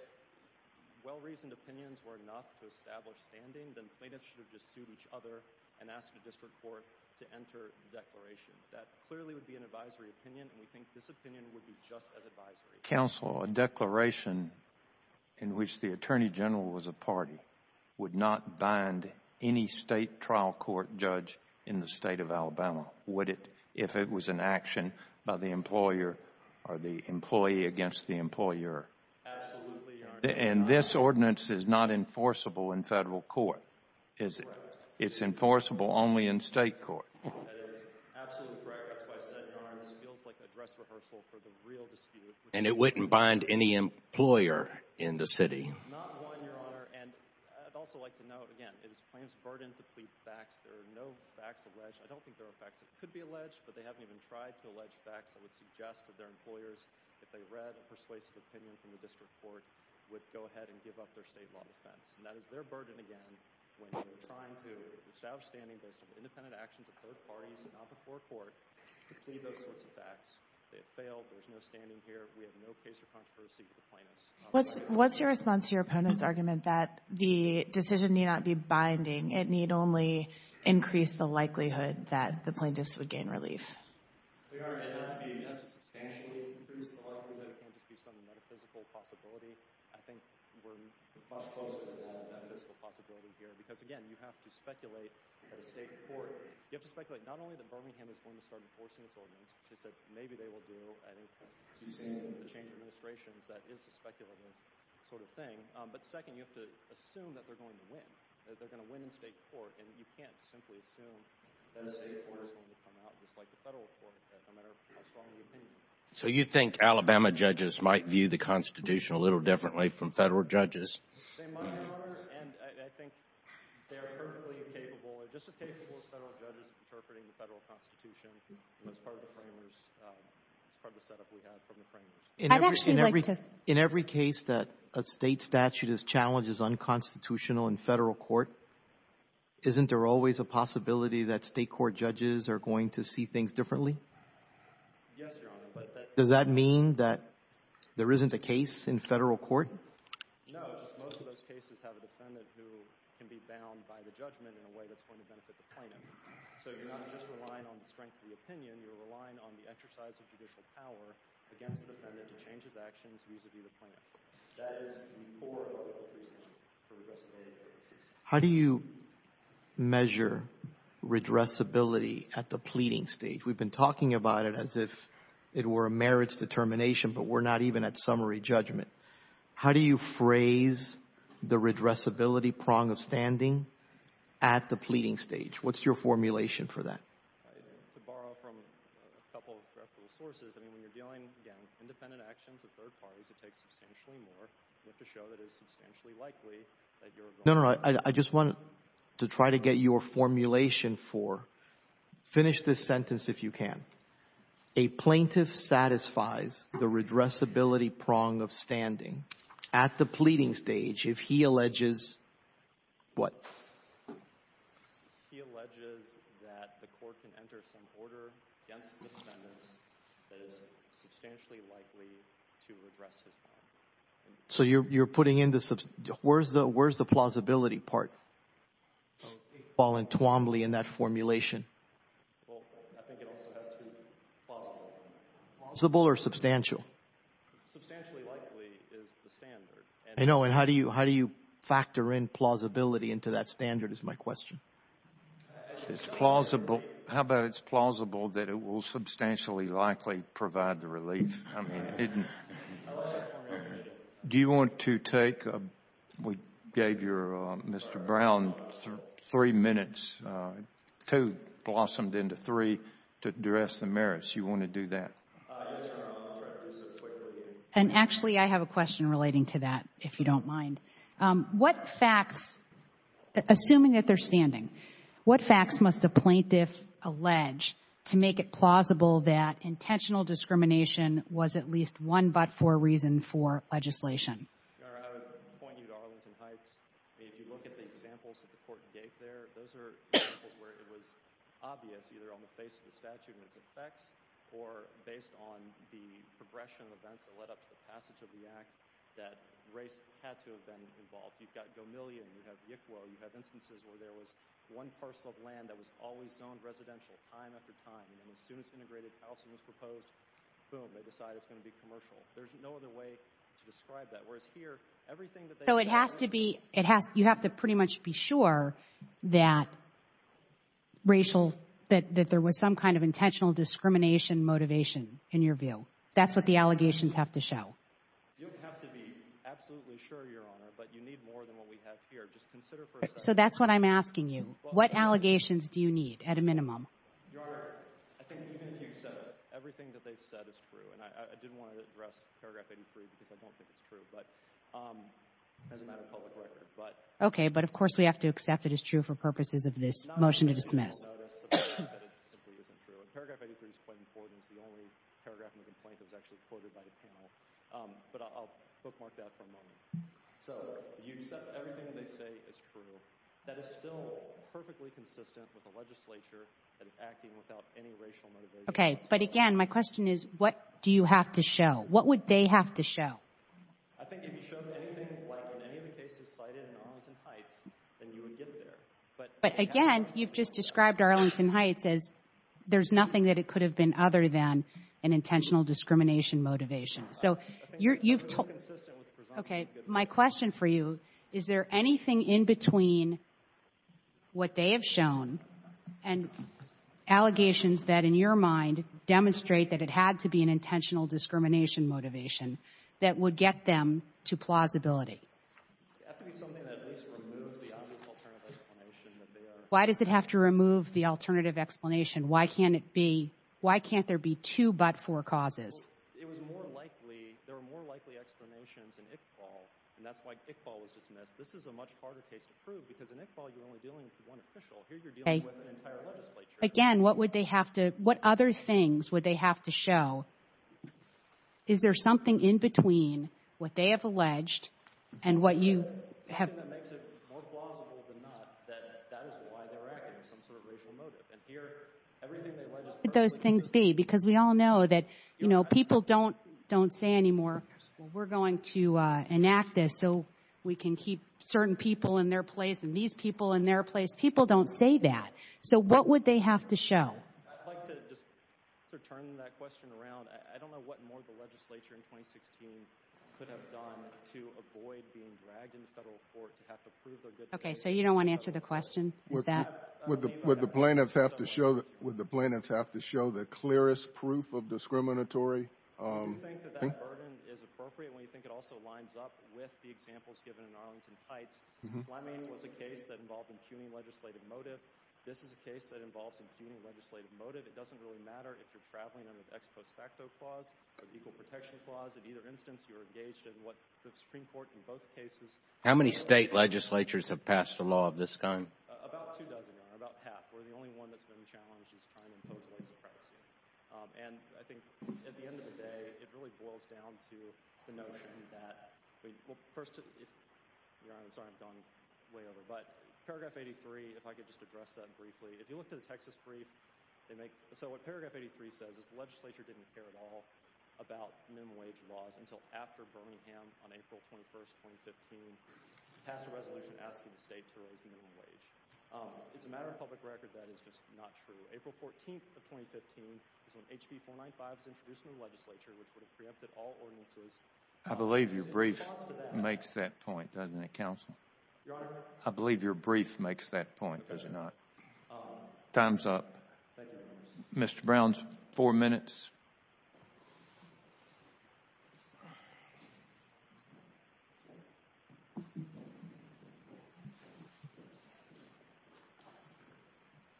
well-reasoned opinions were enough to establish standing, then plaintiffs should have just sued each other and asked the district court to enter the declaration. That clearly would be an advisory opinion, and we think this opinion would be just as advisory. Counsel, a declaration in which the Attorney General was a party would not bind any state trial court judge in the state of Alabama, would it if it was an action by the employer or the employee against the employer? Absolutely, Your Honor. And this ordinance is not enforceable in federal court, is it? It's enforceable only in state court. That is absolutely correct. That's why I said, Your Honor, this feels like a dress rehearsal for the real dispute. And it wouldn't bind any employer in the city? Not one, Your Honor. And I'd also like to note, again, it is a plaintiff's burden to plead facts. There are no facts alleged. I don't think there are facts that could be alleged, but they haven't even tried to allege facts that would suggest that their employers, if they read a persuasive opinion from the district court, would go ahead and give up their state law defense. And that is their burden again when they're trying to establish standing to plead those sorts of facts. They have failed. There's no standing here. We have no case for controversy with the plaintiffs. What's your response to your opponent's argument that the decision need not be binding? It need only increase the likelihood that the plaintiffs would gain relief? Your Honor, it has to be, yes, substantially increase the likelihood. It can't just be some metaphysical possibility. I think we're much closer to that metaphysical possibility here because, again, you have to speculate at a state court. You have to speculate not only that Birmingham is going to start enforcing its ordinance, which they said maybe they will do. I think you've seen the change of administrations. That is a speculative sort of thing. But second, you have to assume that they're going to win, that they're going to win in state court. And you can't simply assume that a state court is going to come out just like a federal court, no matter how strong the opinion is. So you think Alabama judges might view the Constitution a little differently from federal judges? They might, Your Honor. And I think they are perfectly capable, just as capable as federal judges in interpreting the federal Constitution. That's part of the framers. That's part of the setup we have from the framers. I'd actually like to — In every case that a State statute is challenged as unconstitutional in federal court, isn't there always a possibility that State court judges are going to see things differently? Yes, Your Honor, but that — Does that mean that there isn't a case in federal court? No. Federal judges, most of those cases, have a defendant who can be bound by the judgment in a way that's going to benefit the plaintiff. So you're not just relying on the strength of the opinion. You're relying on the exercise of judicial power against the defendant to change his actions vis-a-vis the plaintiff. That is the core of what we're saying for redressability. How do you measure redressability at the pleading stage? We've been talking about it as if it were a merits determination, but we're not even at summary judgment. How do you phrase the redressability prong of standing at the pleading stage? What's your formulation for that? To borrow from a couple of sources, I mean, when you're dealing, again, independent actions of third parties, it takes substantially more. You have to show that it's substantially likely that you're — No, no, no. I just want to try to get your formulation for — finish this sentence if you can. A plaintiff satisfies the redressability prong of standing at the pleading stage if he alleges what? He alleges that the court can enter some order against the defendant that is substantially likely to redress his crime. So you're putting in the — where's the plausibility part? It's all in Twombly in that formulation. Well, I think it also has to be plausible. Plausible or substantial? Substantially likely is the standard. I know. And how do you factor in plausibility into that standard is my question. It's plausible. How about it's plausible that it will substantially likely provide the relief? I mean, it — I like that formulation. Do you want to take — we gave your — Mr. Brown three minutes, two blossomed into three, to address the merits. You want to do that? Yes, Your Honor. I'll try to do so quickly. And actually, I have a question relating to that, if you don't mind. What facts — assuming that they're standing, what facts must a plaintiff allege to make it plausible that intentional discrimination was at least one but-for reason for legislation? Your Honor, I would point you to Arlington Heights. If you look at the examples that the court gave there, those are examples where it was obvious either on the face of the statute and its effects or based on the progression of events that led up to the passage of the Act that race had to have been involved. You've got Gomillion. You have Yickwo. You have instances where there was one parcel of land that was always zoned residential time after time. And then as soon as integrated housing was proposed, boom, they decide it's going to be commercial. There's no other way to describe that. Whereas here, everything that they — So it has to be — it has — you have to pretty much be sure that racial — that there was some kind of intentional discrimination motivation, in your view. That's what the allegations have to show. You don't have to be absolutely sure, Your Honor, but you need more than what we have here. Just consider for a second — So that's what I'm asking you. What allegations do you need at a minimum? Your Honor, I think even if you accept it, everything that they've said is true. And I didn't want to address paragraph 83 because I don't think it's true. But as a matter of public record, but — Okay. But, of course, we have to accept it is true for purposes of this motion to dismiss. I think you'll notice that it simply isn't true. And paragraph 83 is quite important. It's the only paragraph in the complaint that was actually quoted by the panel. But I'll bookmark that for a moment. So you accept everything they say is true. That is still perfectly consistent with the legislature that is acting without any racial motivation. Okay. But, again, my question is, what do you have to show? What would they have to show? I think if you showed anything like in any of the cases cited in Arlington Heights, then you would get there. But, again, you've just described Arlington Heights as there's nothing that it could have been other than an intentional discrimination motivation. So you've told — I think it's inconsistent with the presumption of goodwill. Okay. My question for you, is there anything in between what they have shown and allegations that, in your mind, demonstrate that it had to be an intentional discrimination motivation that would get them to plausibility? It would have to be something that at least removes the obvious alternative explanation that they are — Why does it have to remove the alternative explanation? Why can't it be — why can't there be two but-for causes? Well, it was more likely — there were more likely explanations in Iqbal, and that's why Iqbal was dismissed. This is a much harder case to prove, because in Iqbal, you're only dealing with one official. Here, you're dealing with an entire legislature. Again, what would they have to — what other things would they have to show? Is there something in between what they have alleged and what you have — Something that makes it more plausible than not that that is why they're acting, some sort of racial motive. And here, everything they alleged is partly — What would those things be? Because we all know that, you know, people don't say anymore, well, we're going to enact this so we can keep certain people in their place and these people in their place. People don't say that. So what would they have to show? I'd like to just sort of turn that question around. I don't know what more the legislature in 2016 could have done to avoid being dragged into federal court to have to prove their good — OK, so you don't want to answer the question? Is that — Would the plaintiffs have to show the clearest proof of discriminatory — Do you think that that burden is appropriate when you think it also lines up with the examples given in Arlington Heights? Fleming was a case that involved impugning legislative motive. This is a case that involves impugning legislative motive. It doesn't really matter if you're traveling under the Ex Post Facto Clause or the Equal Protection Clause. In either instance, you're engaged in what the Supreme Court in both cases — How many state legislatures have passed a law of this kind? About two dozen, Your Honor, about half, where the only one that's been challenged is trying to impose a lawsuit. And I think at the end of the day, it really boils down to the notion that — Well, first — Your Honor, I'm sorry I've gone way over. But Paragraph 83, if I could just address that briefly. If you look to the Texas brief, they make — So what Paragraph 83 says is the legislature didn't care at all about minimum wage laws until after Birmingham on April 21, 2015, passed a resolution asking the state to raise the minimum wage. It's a matter of public record that is just not true. April 14 of 2015 is when HB495 was introduced into the legislature, which would have preempted all ordinances — That makes that point, doesn't it, counsel? I believe your brief makes that point, does it not? Time's up. Mr. Brown's four minutes.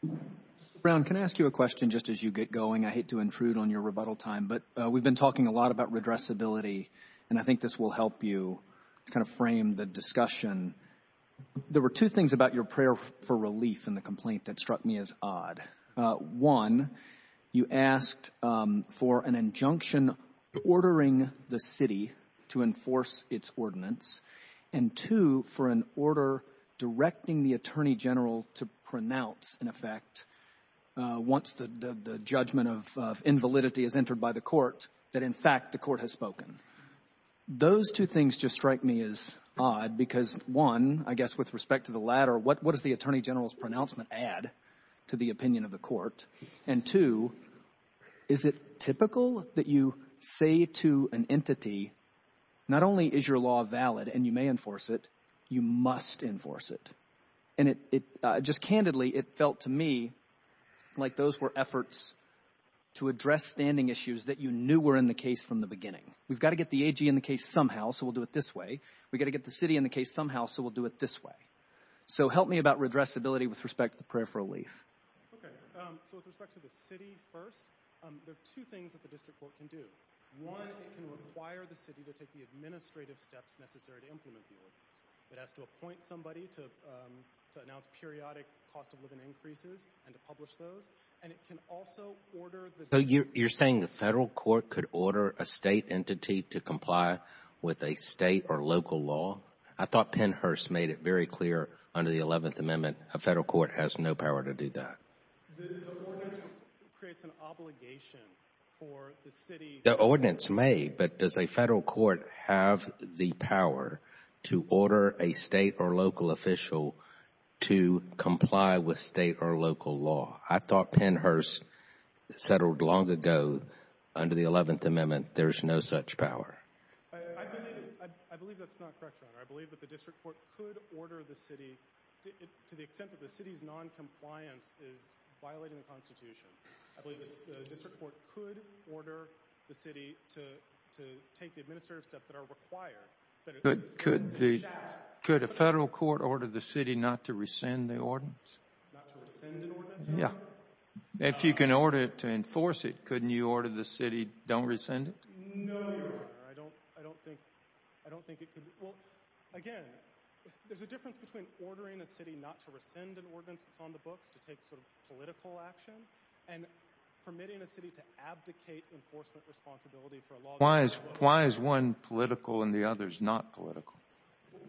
Mr. Brown, can I ask you a question just as you get going? I hate to intrude on your rebuttal time, but we've been talking a lot about redressability, and I think this will help you kind of frame the discussion. There were two things about your prayer for relief in the complaint that struck me as odd. One, you asked for an injunction ordering the city to enforce its ordinance, and two, for an order directing the attorney general to pronounce, in effect, once the judgment of invalidity is entered by the court, that in fact the court has spoken. Those two things just strike me as odd because, one, I guess with respect to the latter, what does the attorney general's pronouncement add to the opinion of the court? And two, is it typical that you say to an entity, not only is your law valid and you may enforce it, you must enforce it? And just candidly, it felt to me like those were efforts to address standing issues that you knew were in the case from the beginning. We've got to get the AG in the case somehow, so we'll do it this way. We've got to get the city in the case somehow, so we'll do it this way. So help me about redressability with respect to the prayer for relief. Okay. So with respect to the city first, there are two things that the district court can do. One, it can require the city to take the administrative steps necessary to implement the ordinance. It has to appoint somebody to announce periodic cost of living increases and to publish those. And it can also order the district court. So you're saying the federal court could order a state entity to comply with a state or local law? I thought Pennhurst made it very clear under the 11th Amendment a federal court has no power to do that. The ordinance creates an obligation for the city. The ordinance may, but does a federal court have the power to order a state or local official to comply with state or local law? I thought Pennhurst settled long ago under the 11th Amendment there's no such power. I believe that's not correct, Your Honor. I believe that the district court could order the city to the extent that the city's noncompliance is violating the Constitution. I believe the district court could order the city to take the administrative steps that are required. But could a federal court order the city not to rescind the ordinance? Not to rescind an ordinance? Yeah. If you can order it to enforce it, couldn't you order the city don't rescind it? No, Your Honor. I don't think it could. Well, again, there's a difference between ordering a city not to rescind an ordinance that's on the books, to take sort of political action, and permitting a city to abdicate enforcement responsibility for a law... Why is one political and the other's not political?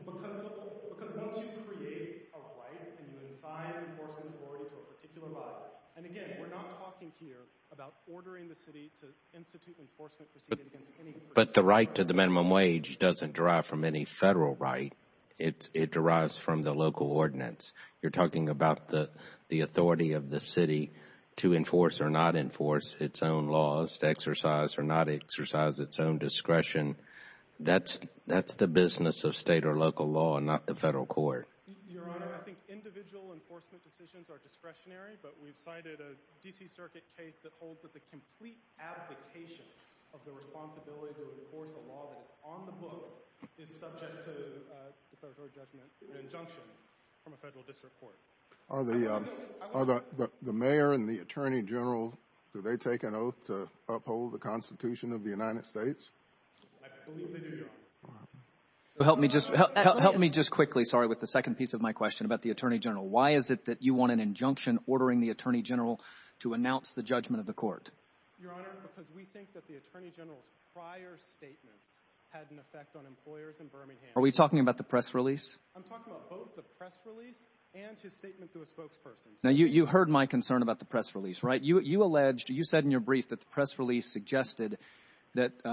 Because once you create a right and you assign enforcement authority to a particular body, and again, we're not talking here about ordering the city to institute enforcement proceedings against any... But the right to the minimum wage doesn't derive from any federal right. It derives from the local ordinance. You're talking about the authority of the city to enforce or not enforce its own laws, to exercise or not exercise its own discretion. That's the business of state or local law, not the federal court. Your Honor, I think individual enforcement decisions are discretionary, but we've cited a D.C. Circuit case that holds that the complete abdication of the responsibility to enforce a law that is on the books is subject to an injunction from a federal district court. Are the mayor and the attorney general, do they take an oath to uphold the Constitution of the United States? I believe they do, Your Honor. Help me just quickly, sorry, with the second piece of my question about the attorney general. Why is it that you want an injunction ordering the attorney general to announce the judgment of the court? Your Honor, because we think that the attorney general's prior statements had an effect on employers in Birmingham. Are we talking about the press release? I'm talking about both the press release and his statement to a spokesperson. Now, you heard my concern about the press release, right? You alleged, you said in your brief that the press release suggested that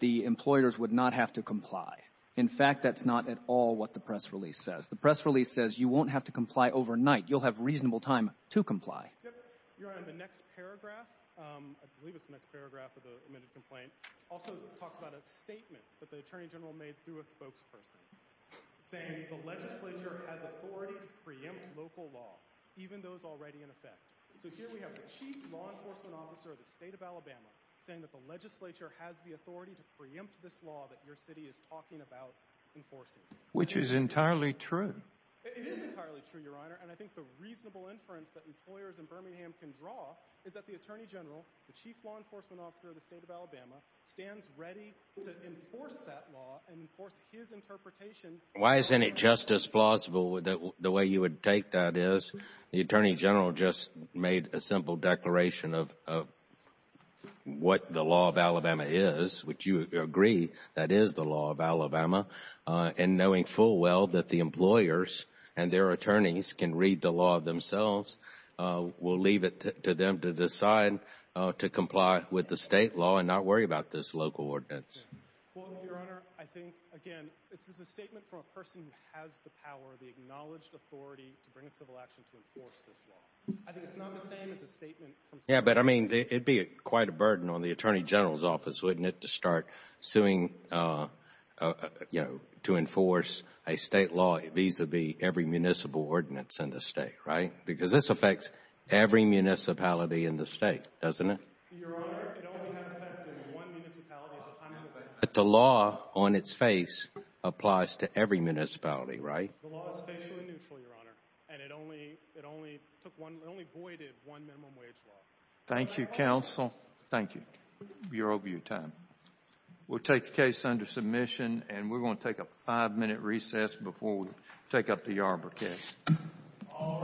the employers would not have to comply. In fact, that's not at all what the press release says. The press release says you won't have to comply overnight. You'll have reasonable time to comply. Your Honor, the next paragraph, I believe it's the next paragraph of the admitted complaint, also talks about a statement that the attorney general made through a spokesperson, saying the legislature has authority to preempt local law, even those already in effect. So here we have the chief law enforcement officer of the state of Alabama saying that the legislature has the authority to preempt this law that your city is talking about enforcing. Which is entirely true. It is entirely true, Your Honor, and I think the reasonable inference that employers in Birmingham can draw is that the attorney general, the chief law enforcement officer of the state of Alabama, stands ready to enforce that law and enforce his interpretation. Why isn't it just as plausible the way you would take that is? The attorney general just made a simple declaration of what the law of Alabama is, which you agree that is the law of Alabama. And knowing full well that the employers and their attorneys can read the law themselves, we'll leave it to them to decide to comply with the state law and not worry about this local ordinance. Well, Your Honor, I think, again, this is a statement from a person who has the power, the acknowledged authority to bring a civil action to enforce this law. I think it's not the same as a statement from someone else. Yeah, but I mean, it'd be quite a burden on the attorney general's office, wouldn't it, to start suing to enforce a state law vis-à-vis every municipal ordinance in the state, right? Because this affects every municipality in the state, doesn't it? Your Honor, it only had an effect in one municipality at the time it was enacted. But the law on its face applies to every municipality, right? The law is facially neutral, Your Honor, and it only voided one minimum wage law. Thank you, counsel. Thank you. We are over your time. We'll take the case under submission, and we're going to take a five-minute recess before we take up the Arbor case. All rise.